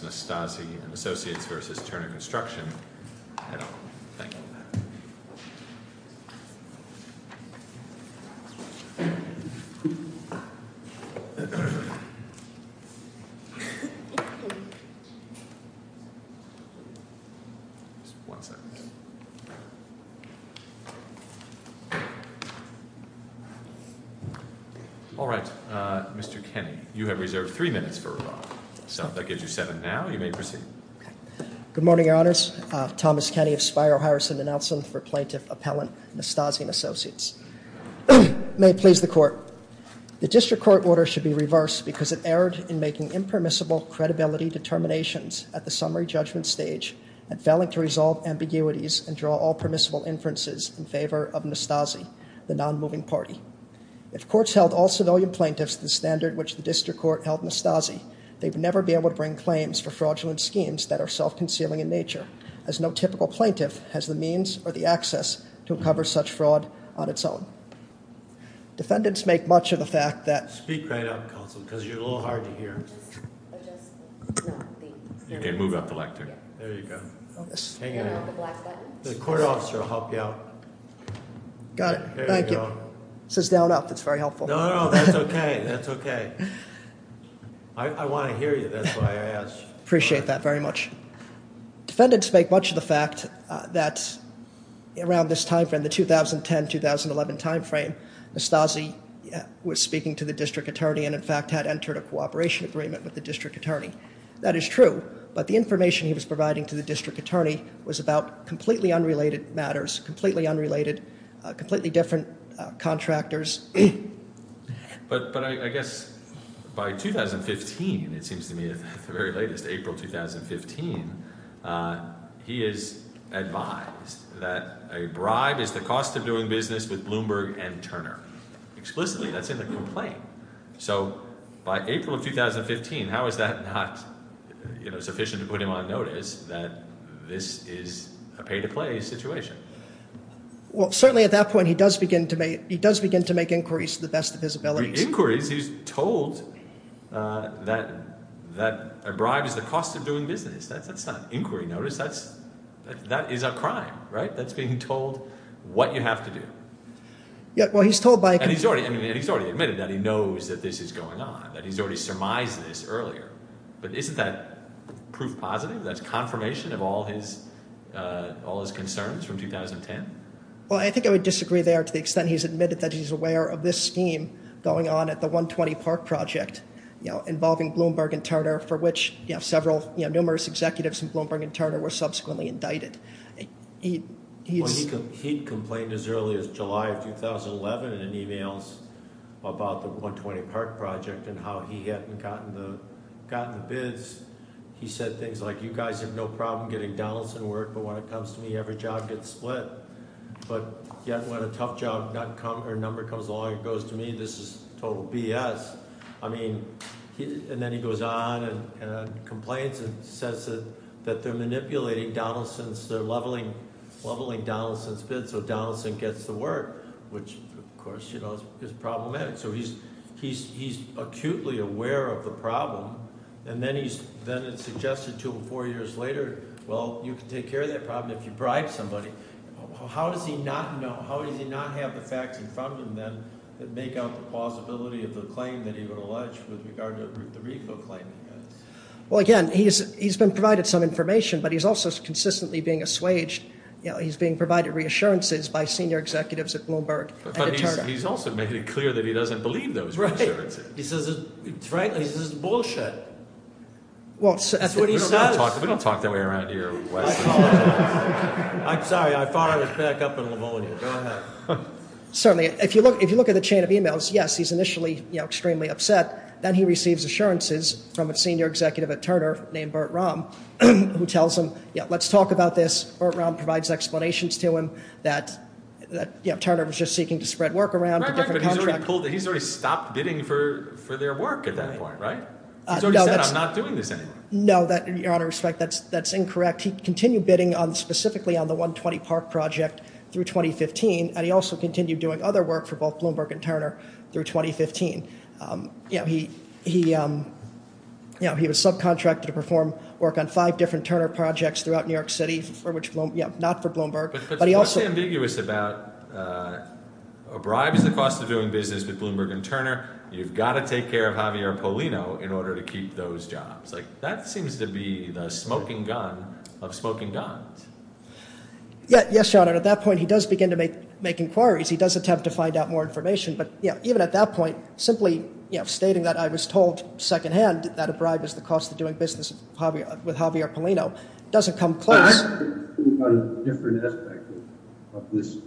& Associates, Inc. v. Turner Construction, L.A. Mr. Kenney, you have reserved three minutes for rebuttal. So if that gives you seven now, you may proceed. Good morning, Your Honors. Thomas Kenney of Spiro-Harrison & Elson for Plaintiff Appellant, Nastasi & Associates. May it please the Court, The District Court order should be reversed because it erred in making impermissible credibility determinations at the summary judgment stage and failing to resolve ambiguities and draw all permissible inferences in favor of Nastasi, the non-moving party. If courts held all civilian plaintiffs to the standard which the District Court held Nastasi, they would never be able to bring claims for fraudulent schemes that are self-concealing in nature, as no typical plaintiff has the means or the access to uncover such fraud on its own. Defendants make much of the fact that Speak right up, Counsel, because you're a little hard to hear. Okay, move up the lectern. There you go. Hang it up. The black button. The court officer will help you out. Got it. Thank you. It says down up. That's very helpful. No, no, that's okay. That's okay. I want to hear you. That's why I asked. Appreciate that very much. Defendants make much of the fact that around this time frame, the 2010-2011 time frame, Nastasi was speaking to the District Attorney and in fact had entered a cooperation agreement with the District Attorney. That is true, but the information he was providing to the District Attorney was about completely unrelated matters, completely unrelated, completely different contractors. But I guess by 2015, it seems to me at the very latest, April 2015, he has advised that a bribe is the cost of doing business with Bloomberg and Turner. Explicitly, that's in the complaint. So by April of 2015, how is that not sufficient to put him on notice that this is a pay-to-play situation? Well, certainly at that point, he does begin to make inquiries to the best of his ability. Inquiries? He's told that a bribe is the cost of doing business. That's not inquiry notice. That is a crime, right? That's being told what you have to do. And he's already admitted that he knows that this is going on, that he's already surmised this earlier. But isn't that proof positive? That's confirmation of all his concerns from 2010? Well, I think I would disagree there to the extent he's admitted that he's aware of this scheme going on at the 120 Park Project, involving Bloomberg and Turner, for which several, numerous executives from Bloomberg and Turner were subsequently indicted. Well, he complained as early as July of 2011 in an email about the 120 Park Project and how he hadn't gotten the bids. He said things like, you guys have no problem getting Donaldson work, but when it comes to me, every job gets split. But yet when a tough job number comes along and goes to me, this is total BS. And then he goes on and complains and says that they're manipulating Donaldson's – they're leveling Donaldson's bids so Donaldson gets the work, which, of course, is problematic. So he's acutely aware of the problem. And then it's suggested two or four years later, well, you can take care of that problem if you bribe somebody. How does he not know? How does he not have the facts in front of him then that make out the possibility of the claim that he would allege with regard to the RICO claim he has? Well, again, he's been provided some information, but he's also consistently being assuaged. He's being provided reassurances by senior executives at Bloomberg and at Turner. But he's also made it clear that he doesn't believe those reassurances. Right. He says, frankly, this is bullshit. That's what he says. We don't talk that way around here at Western College. I'm sorry. I thought I was back up in Lavonia. Go ahead. Certainly. If you look at the chain of emails, yes, he's initially extremely upset. Then he receives assurances from a senior executive at Turner named Bert Romm who tells him, yeah, let's talk about this. Bert Romm provides explanations to him that Turner was just seeking to spread work around. Right, right. But he's already pulled – he's already stopped bidding for their work at that point, right? He's already said, I'm not doing this anymore. No, that – out of respect, that's incorrect. He continued bidding specifically on the 120 Park project through 2015. And he also continued doing other work for both Bloomberg and Turner through 2015. He was subcontracted to perform work on five different Turner projects throughout New York City for which – not for Bloomberg. But he also – But what's ambiguous about a bribe is the cost of doing business with Bloomberg and Turner. You've got to take care of Javier Polino in order to keep those jobs. Like that seems to be the smoking gun of smoking guns. Yes, Your Honor. At that point, he does begin to make inquiries. He does attempt to find out more information. But even at that point, simply stating that I was told secondhand that a bribe is the cost of doing business with Javier Polino doesn't come close. But I'm thinking about a different aspect of this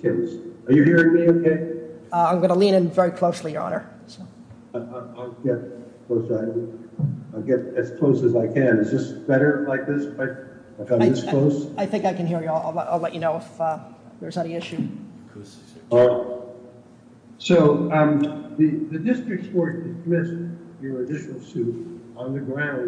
case. Are you hearing me okay? I'm going to lean in very closely, Your Honor. I'll get as close as I can. Is this better like this? I think I can hear you. I'll let you know if there's any issue. So the district court dismissed your initial suit on the ground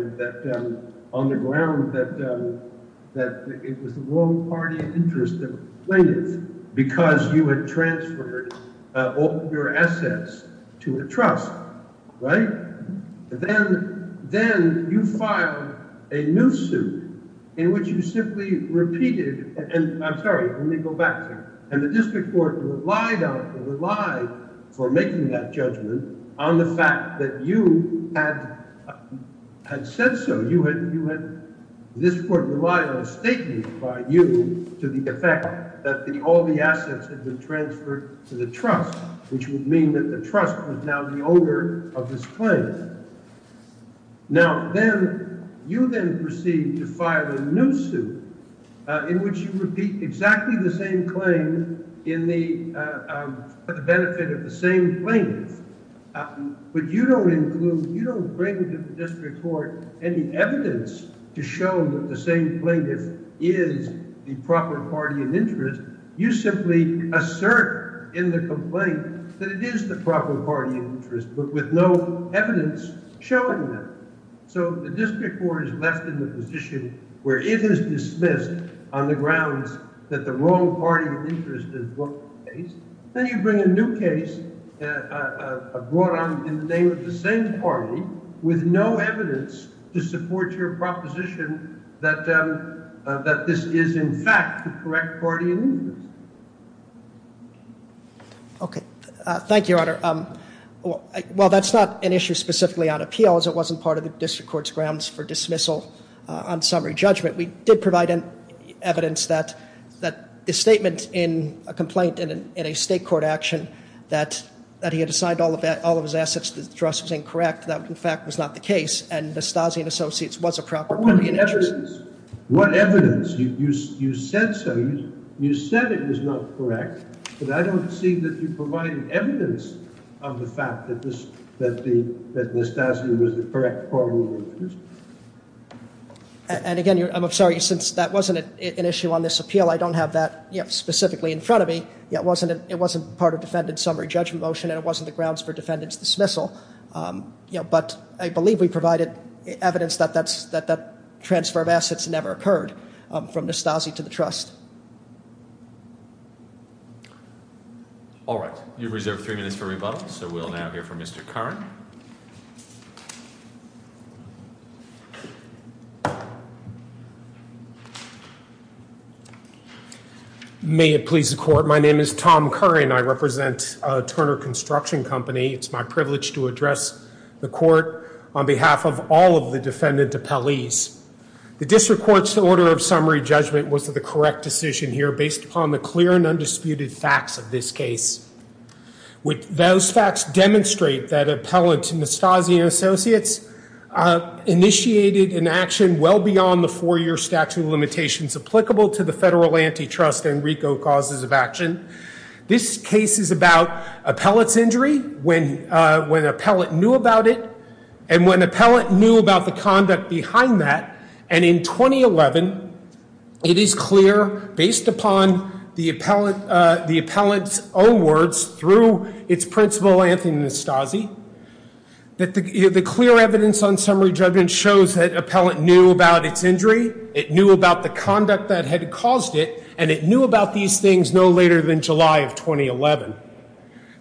that it was the wrong party interest of plaintiffs because you had transferred all your assets to a trust, right? Then you filed a new suit in which you simply repeated, and I'm sorry, let me go back to you. And the district court relied on it, relied for making that judgment on the fact that you had said so. This court relied on a statement by you to the effect that all the assets had been transferred to the trust, which would mean that the trust was now the owner of this claim. Now, then you then proceed to file a new suit in which you repeat exactly the same claim for the benefit of the same plaintiffs. But you don't include, you don't bring to the district court any evidence to show that the same plaintiff is the proper party in interest. You simply assert in the complaint that it is the proper party interest, but with no evidence showing that. So the district court is left in the position where it is dismissed on the grounds that the wrong party interest is the case. Then you bring a new case brought on in the name of the same party with no evidence to support your proposition that this is in fact the correct party in interest. Okay. Thank you, Your Honor. Well, that's not an issue specifically on appeals. It wasn't part of the district court's grounds for dismissal on summary judgment. We did provide evidence that the statement in a complaint in a state court action that he had assigned all of his assets to the trust was incorrect. That, in fact, was not the case, and the Stasi and Associates was a proper party in interest. What evidence? What evidence? You said so. You said it was not correct, but I don't see that you provided evidence of the fact that the Stasi was the correct party in interest. And again, I'm sorry, since that wasn't an issue on this appeal, I don't have that specifically in front of me. It wasn't part of defendant's summary judgment motion, and it wasn't the grounds for defendant's dismissal. But I believe we provided evidence that that transfer of assets never occurred from the Stasi to the trust. All right. You've reserved three minutes for rebuttal, so we'll now hear from Mr. Curran. May it please the court. My name is Tom Curran. I represent Turner Construction Company. It's my privilege to address the court on behalf of all of the defendant appellees. The district court's order of summary judgment was that the correct decision here, based upon the clear and undisputed facts of this case. Those facts demonstrate that appellant and the Stasi and Associates initiated an action well beyond the four-year statute of limitations applicable to the federal antitrust and RICO causes of action. This case is about appellant's injury, when appellant knew about it, and when appellant knew about the conduct behind that. And in 2011, it is clear, based upon the appellant's own words through its principal, Anthony Nestazi, that the clear evidence on summary judgment shows that appellant knew about its injury, it knew about the conduct that had caused it, and it knew about these things no later than July of 2011.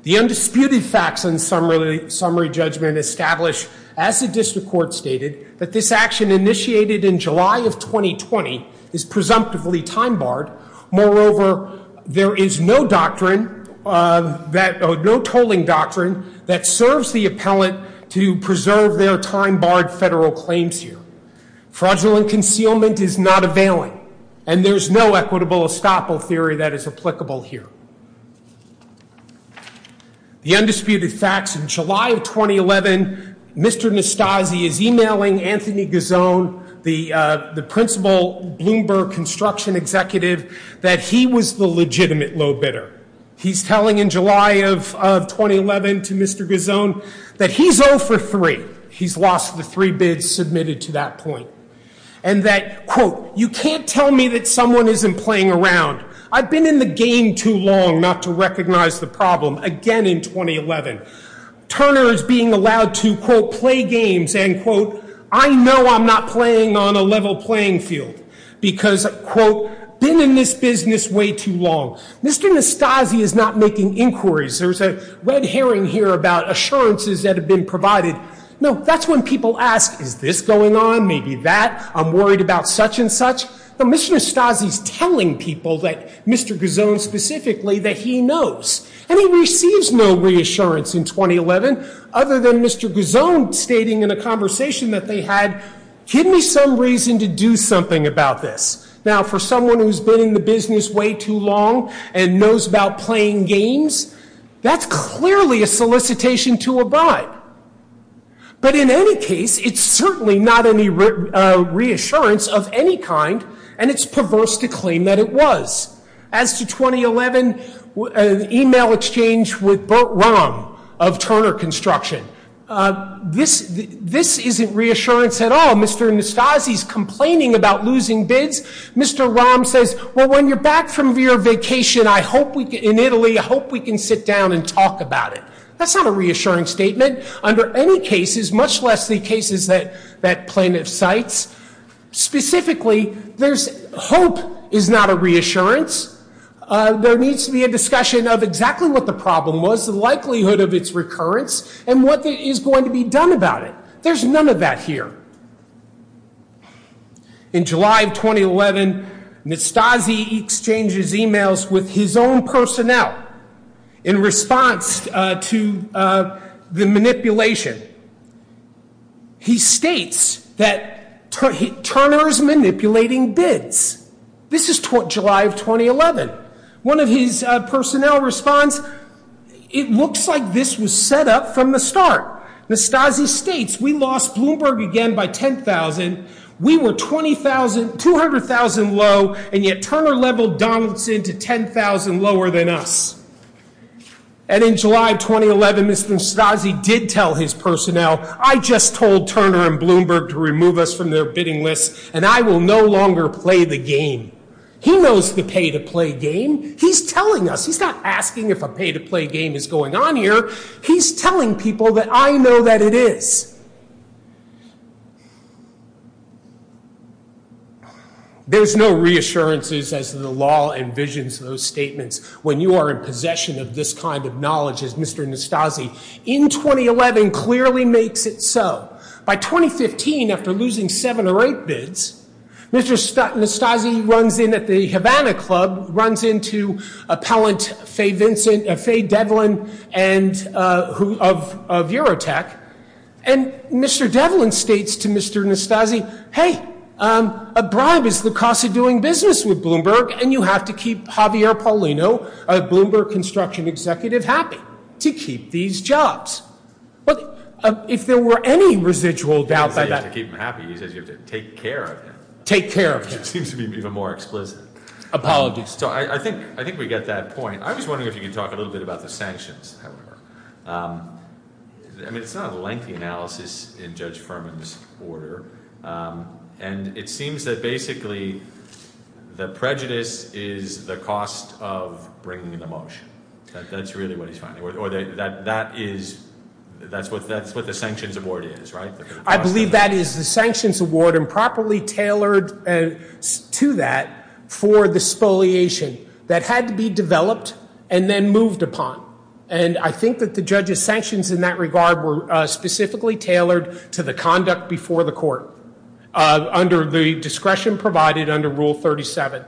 The undisputed facts on summary judgment establish, as the district court stated, that this action initiated in July of 2020 is presumptively time-barred. Moreover, there is no doctrine, no tolling doctrine, that serves the appellant to preserve their time-barred federal claims here. Fraudulent concealment is not availing, and there is no equitable estoppel theory that is applicable here. The undisputed facts in July of 2011, Mr. Nestazi is emailing Anthony Gazone, the principal Bloomberg construction executive, that he was the legitimate low bidder. He's telling in July of 2011 to Mr. Gazone that he's 0 for 3. He's lost the 3 bids submitted to that point. And that, quote, you can't tell me that someone isn't playing around. I've been in the game too long not to recognize the problem, again in 2011. Turner is being allowed to, quote, play games, and, quote, I know I'm not playing on a level playing field. Because, quote, been in this business way too long. Mr. Nestazi is not making inquiries. There's a red herring here about assurances that have been provided. No, that's when people ask, is this going on? Maybe that. I'm worried about such and such. But Mr. Nestazi is telling people, Mr. Gazone specifically, that he knows. And he receives no reassurance in 2011 other than Mr. Gazone stating in a conversation that they had, give me some reason to do something about this. Now, for someone who's been in the business way too long and knows about playing games, that's clearly a solicitation to abide. But in any case, it's certainly not any reassurance of any kind, and it's perverse to claim that it was. As to 2011, an email exchange with Bert Romm of Turner Construction, this isn't reassurance at all. Mr. Nestazi is complaining about losing bids. Mr. Romm says, well, when you're back from your vacation in Italy, I hope we can sit down and talk about it. That's not a reassuring statement under any cases, much less the cases that plaintiff cites. Specifically, hope is not a reassurance. There needs to be a discussion of exactly what the problem was, the likelihood of its recurrence, and what is going to be done about it. There's none of that here. In July of 2011, Nestazi exchanges emails with his own personnel in response to the manipulation. He states that Turner is manipulating bids. This is July of 2011. One of his personnel responds, it looks like this was set up from the start. Nestazi states, we lost Bloomberg again by 10,000. We were 20,000, 200,000 low, and yet Turner leveled Donaldson to 10,000 lower than us. And in July of 2011, Mr. Nestazi did tell his personnel, I just told Turner and Bloomberg to remove us from their bidding list, and I will no longer play the game. He knows the pay-to-play game. He's telling us. He's not asking if a pay-to-play game is going on here. He's telling people that I know that it is. There's no reassurances, as the law envisions those statements, when you are in possession of this kind of knowledge, as Mr. Nestazi in 2011 clearly makes it so. By 2015, after losing seven or eight bids, Mr. Nestazi runs in at the Havana Club, runs into appellant Faye Devlin of Eurotech. And Mr. Devlin states to Mr. Nestazi, hey, a bribe is the cost of doing business with Bloomberg, and you have to keep Javier Paulino, a Bloomberg construction executive, happy to keep these jobs. If there were any residual doubt by that— He says you have to keep him happy. He says you have to take care of him. Take care of him. It seems to be even more explicit. Apologies. So I think we get that point. I was wondering if you could talk a little bit about the sanctions, however. I mean, it's not a lengthy analysis in Judge Furman's order, and it seems that basically the prejudice is the cost of bringing the motion. That's really what he's finding. That's what the sanctions award is, right? I believe that is the sanctions award improperly tailored to that for the spoliation that had to be developed and then moved upon. And I think that the judge's sanctions in that regard were specifically tailored to the conduct before the court under the discretion provided under Rule 37.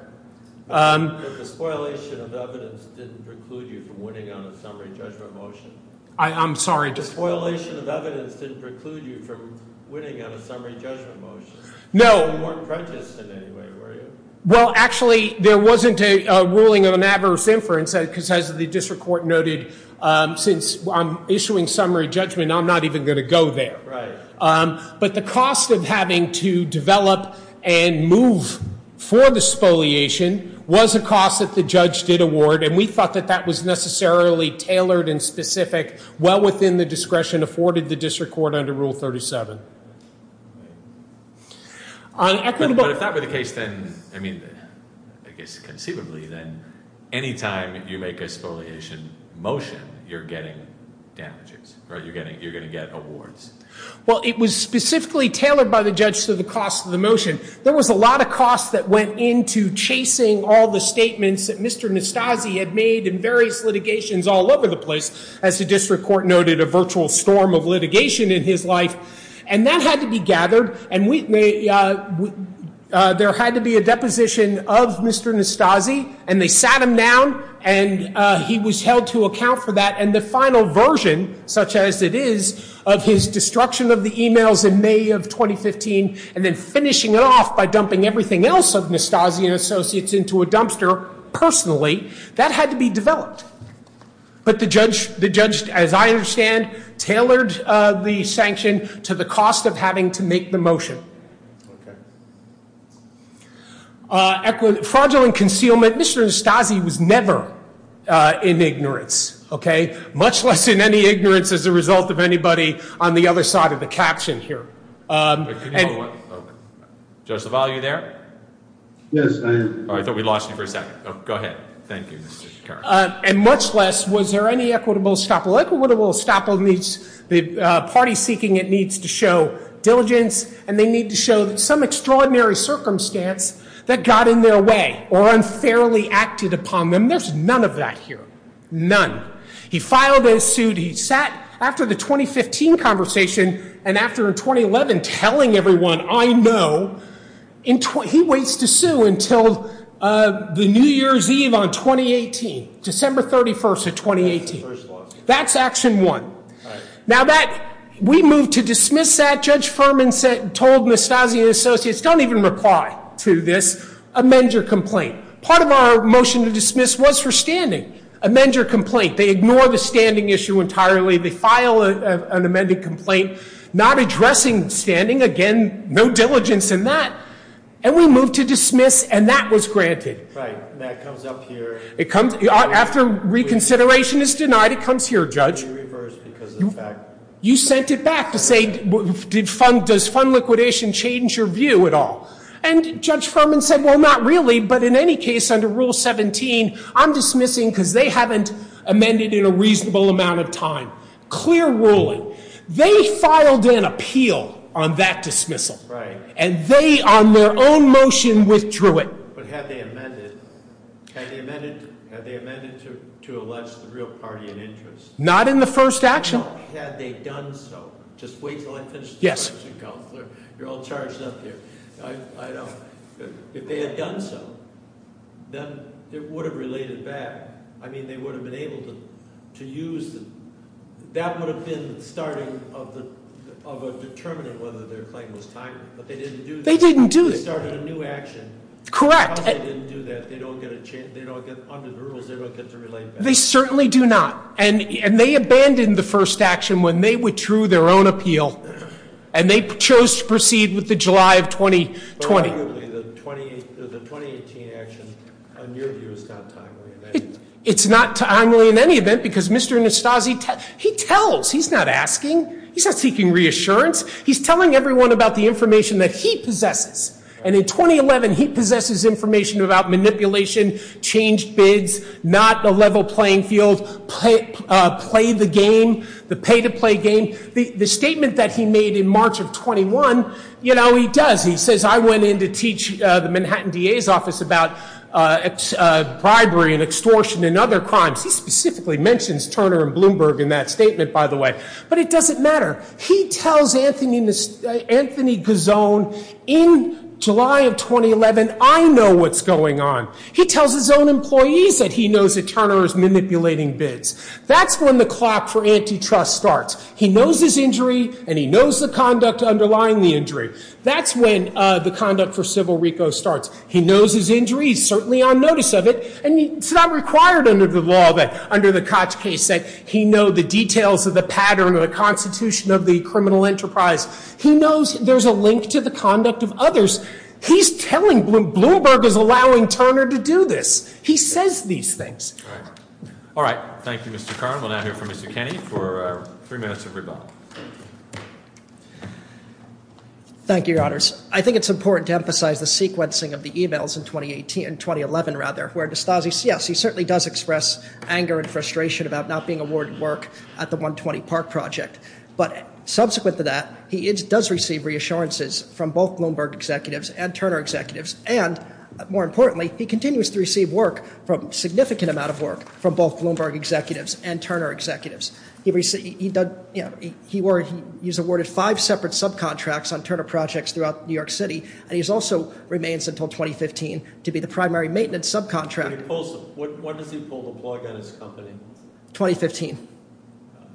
But the spoliation of evidence didn't preclude you from winning on a summary judgment motion. I'm sorry? The spoliation of evidence didn't preclude you from winning on a summary judgment motion. No. You weren't prejudiced in any way, were you? Well, actually, there wasn't a ruling of an adverse inference, because as the district court noted, since I'm issuing summary judgment, I'm not even going to go there. Right. But the cost of having to develop and move for the spoliation was a cost that the judge did award, and we thought that that was necessarily tailored and specific well within the discretion afforded the district court under Rule 37. But if that were the case, then, I mean, I guess conceivably, then any time you make a spoliation motion, you're getting damages, right? You're going to get awards. Well, it was specifically tailored by the judge to the cost of the motion. There was a lot of cost that went into chasing all the statements that Mr. Nastassi had made in various litigations all over the place, as the district court noted, a virtual storm of litigation in his life. And that had to be gathered, and there had to be a deposition of Mr. Nastassi, and they sat him down, and he was held to account for that. And the final version, such as it is, of his destruction of the e-mails in May of 2015 and then finishing it off by dumping everything else of Nastassi and Associates into a dumpster personally, that had to be developed. But the judge, as I understand, tailored the sanction to the cost of having to make the motion. Fraudulent concealment, Mr. Nastassi was never in ignorance, okay? Much less in any ignorance as a result of anybody on the other side of the caption here. Judge LaValle, are you there? Yes, I am. I thought we lost you for a second. Go ahead. Thank you. And much less was there any equitable estoppel. Equitable estoppel means the party seeking it needs to show diligence, and they need to show some extraordinary circumstance that got in their way or unfairly acted upon them. There's none of that here. None. He filed his suit. He sat after the 2015 conversation and after in 2011 telling everyone, I know, he waits to sue until the New Year's Eve on 2018, December 31st of 2018. That's action one. Now, we moved to dismiss that. Judge Furman told Nastassi and Associates, don't even reply to this. Amend your complaint. Part of our motion to dismiss was for standing. Amend your complaint. They ignore the standing issue entirely. They file an amended complaint not addressing standing. Again, no diligence in that. And we moved to dismiss, and that was granted. Right. And that comes up here. After reconsideration is denied, it comes here, Judge. We reversed because of the fact. You sent it back to say, does fund liquidation change your view at all? And Judge Furman said, well, not really. But in any case, under Rule 17, I'm dismissing because they haven't amended in a reasonable amount of time. Clear ruling. They filed an appeal on that dismissal. Right. And they, on their own motion, withdrew it. But had they amended? Had they amended to allege the real party in interest? Not in the first action. Had they done so? Just wait until I finish the question. Yes. You're all charged up here. I know. If they had done so, then it would have related back. I mean, they would have been able to use. That would have been the starting of determining whether their claim was timely. But they didn't do that. They didn't do it. They started a new action. Correct. If they didn't do that, they don't get to relate back. They certainly do not. And they abandoned the first action when they withdrew their own appeal. And they chose to proceed with the July of 2020. But arguably, the 2018 action, in your view, is not timely in any way. It's not timely in any event because Mr. Nastassi, he tells. He's not asking. He's not seeking reassurance. He's telling everyone about the information that he possesses. And in 2011, he possesses information about manipulation, changed bids, not a level playing field, play the game, the pay-to-play game. The statement that he made in March of 21, you know, he does. He says, I went in to teach the Manhattan DA's office about bribery and extortion and other crimes. He specifically mentions Turner and Bloomberg in that statement, by the way. But it doesn't matter. He tells Anthony Gazone, in July of 2011, I know what's going on. He tells his own employees that he knows that Turner is manipulating bids. That's when the clock for antitrust starts. He knows his injury, and he knows the conduct underlying the injury. That's when the conduct for civil RICO starts. He knows his injury. He's certainly on notice of it. And it's not required under the law that under the Koch case that he know the details of the pattern of the Constitution of the criminal enterprise. He knows there's a link to the conduct of others. He's telling Bloomberg is allowing Turner to do this. He says these things. All right. Thank you, Mr. Kern. We'll now hear from Mr. Kenney for three minutes of rebuttal. Thank you, Your Honors. I think it's important to emphasize the sequencing of the e-mails in 2018, in 2011, rather, where D'Souza, yes, he certainly does express anger and frustration about not being awarded work at the 120 Park project. But subsequent to that, he does receive reassurances from both Bloomberg executives and Turner executives. And more importantly, he continues to receive significant amount of work from both Bloomberg executives and Turner executives. He's awarded five separate subcontracts on Turner projects throughout New York City, and he also remains until 2015 to be the primary maintenance subcontract. When does he pull the plug on his company? 2015.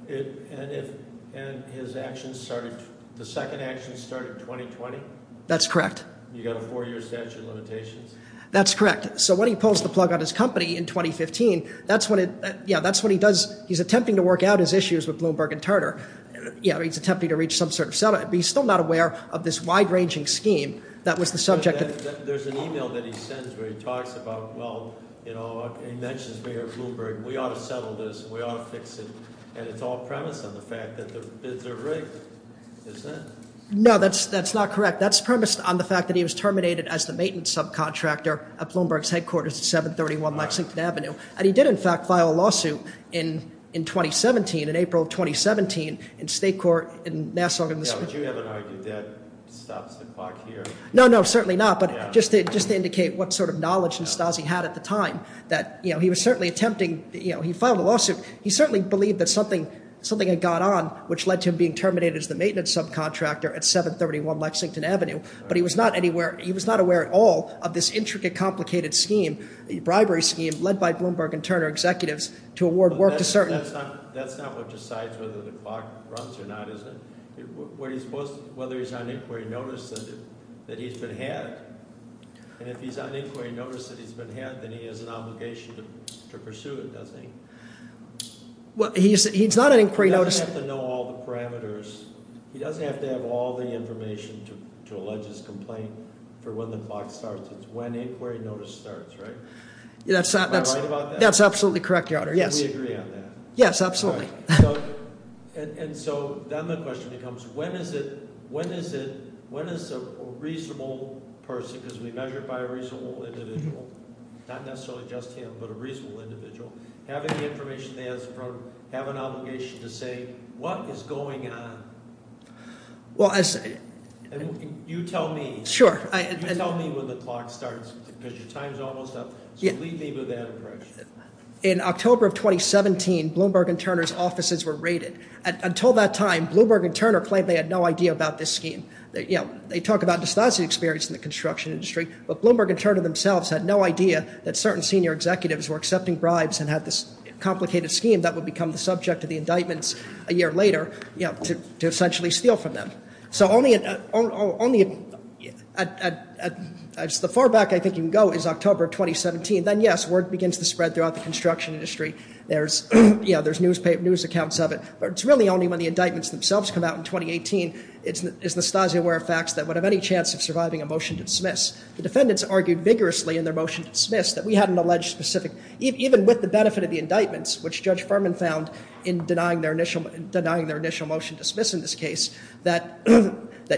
And his actions started, the second action started 2020? That's correct. You got a four-year statute of limitations. That's correct. So when he pulls the plug on his company in 2015, that's what he does. He's attempting to work out his issues with Bloomberg and Turner. He's attempting to reach some sort of settlement. But he's still not aware of this wide-ranging scheme that was the subject of- There's an e-mail that he sends where he talks about, well, you know, he mentions Mayor Bloomberg. We ought to settle this. We ought to fix it. And it's all premised on the fact that the bids are rigged, isn't it? No, that's not correct. That's premised on the fact that he was terminated as the maintenance subcontractor at Bloomberg's headquarters at 731 Lexington Avenue. And he did, in fact, file a lawsuit in 2017, in April of 2017, in state court in Nassau- Yeah, but you haven't argued that stops the clock here. No, no, certainly not. But just to indicate what sort of knowledge and styles he had at the time that, you know, he was certainly attempting- You know, he filed a lawsuit. He certainly believed that something had gone on which led to him being terminated as the maintenance subcontractor at 731 Lexington Avenue. But he was not aware at all of this intricate, complicated scheme, bribery scheme led by Bloomberg and Turner executives to award work to certain- That's not what decides whether the clock runs or not, is it? Whether he's on inquiry notice that he's been had. And if he's on inquiry notice that he's been had, then he has an obligation to pursue it, doesn't he? Well, he's not on inquiry notice- He doesn't have to know all the parameters. He doesn't have to have all the information to allege his complaint for when the clock starts. It's when inquiry notice starts, right? Am I right about that? That's absolutely correct, Your Honor, yes. We agree on that. Yes, absolutely. And so then the question becomes, when is it, when is it, when is a reasonable person, because we measure it by a reasonable individual, not necessarily just him, but a reasonable individual, having the information they ask for, have an obligation to say, what is going on? Well, as- You tell me. Sure. You tell me when the clock starts, because your time's almost up. So leave me with that impression. In October of 2017, Bloomberg and Turner's offices were raided. Until that time, Bloomberg and Turner claimed they had no idea about this scheme. You know, they talk about distasteful experience in the construction industry. But Bloomberg and Turner themselves had no idea that certain senior executives were accepting bribes and had this complicated scheme that would become the subject of the indictments a year later, you know, to essentially steal from them. So only- The far back I think you can go is October of 2017. Then, yes, word begins to spread throughout the construction industry. There's, you know, there's newspaper news accounts of it. But it's really only when the indictments themselves come out in 2018 is Anastasia aware of facts that would have any chance of surviving a motion to dismiss. The defendants argued vigorously in their motion to dismiss that we hadn't alleged specific- Even with the benefit of the indictments, which Judge Furman found in denying their initial motion to dismiss in this case, that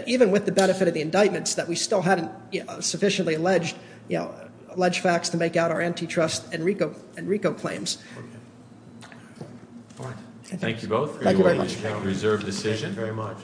even with the benefit of the indictments, that we still hadn't sufficiently alleged facts to make out our antitrust and RICO claims. All right. Thank you both. Thank you very much. Reserved decision. Thank you very much.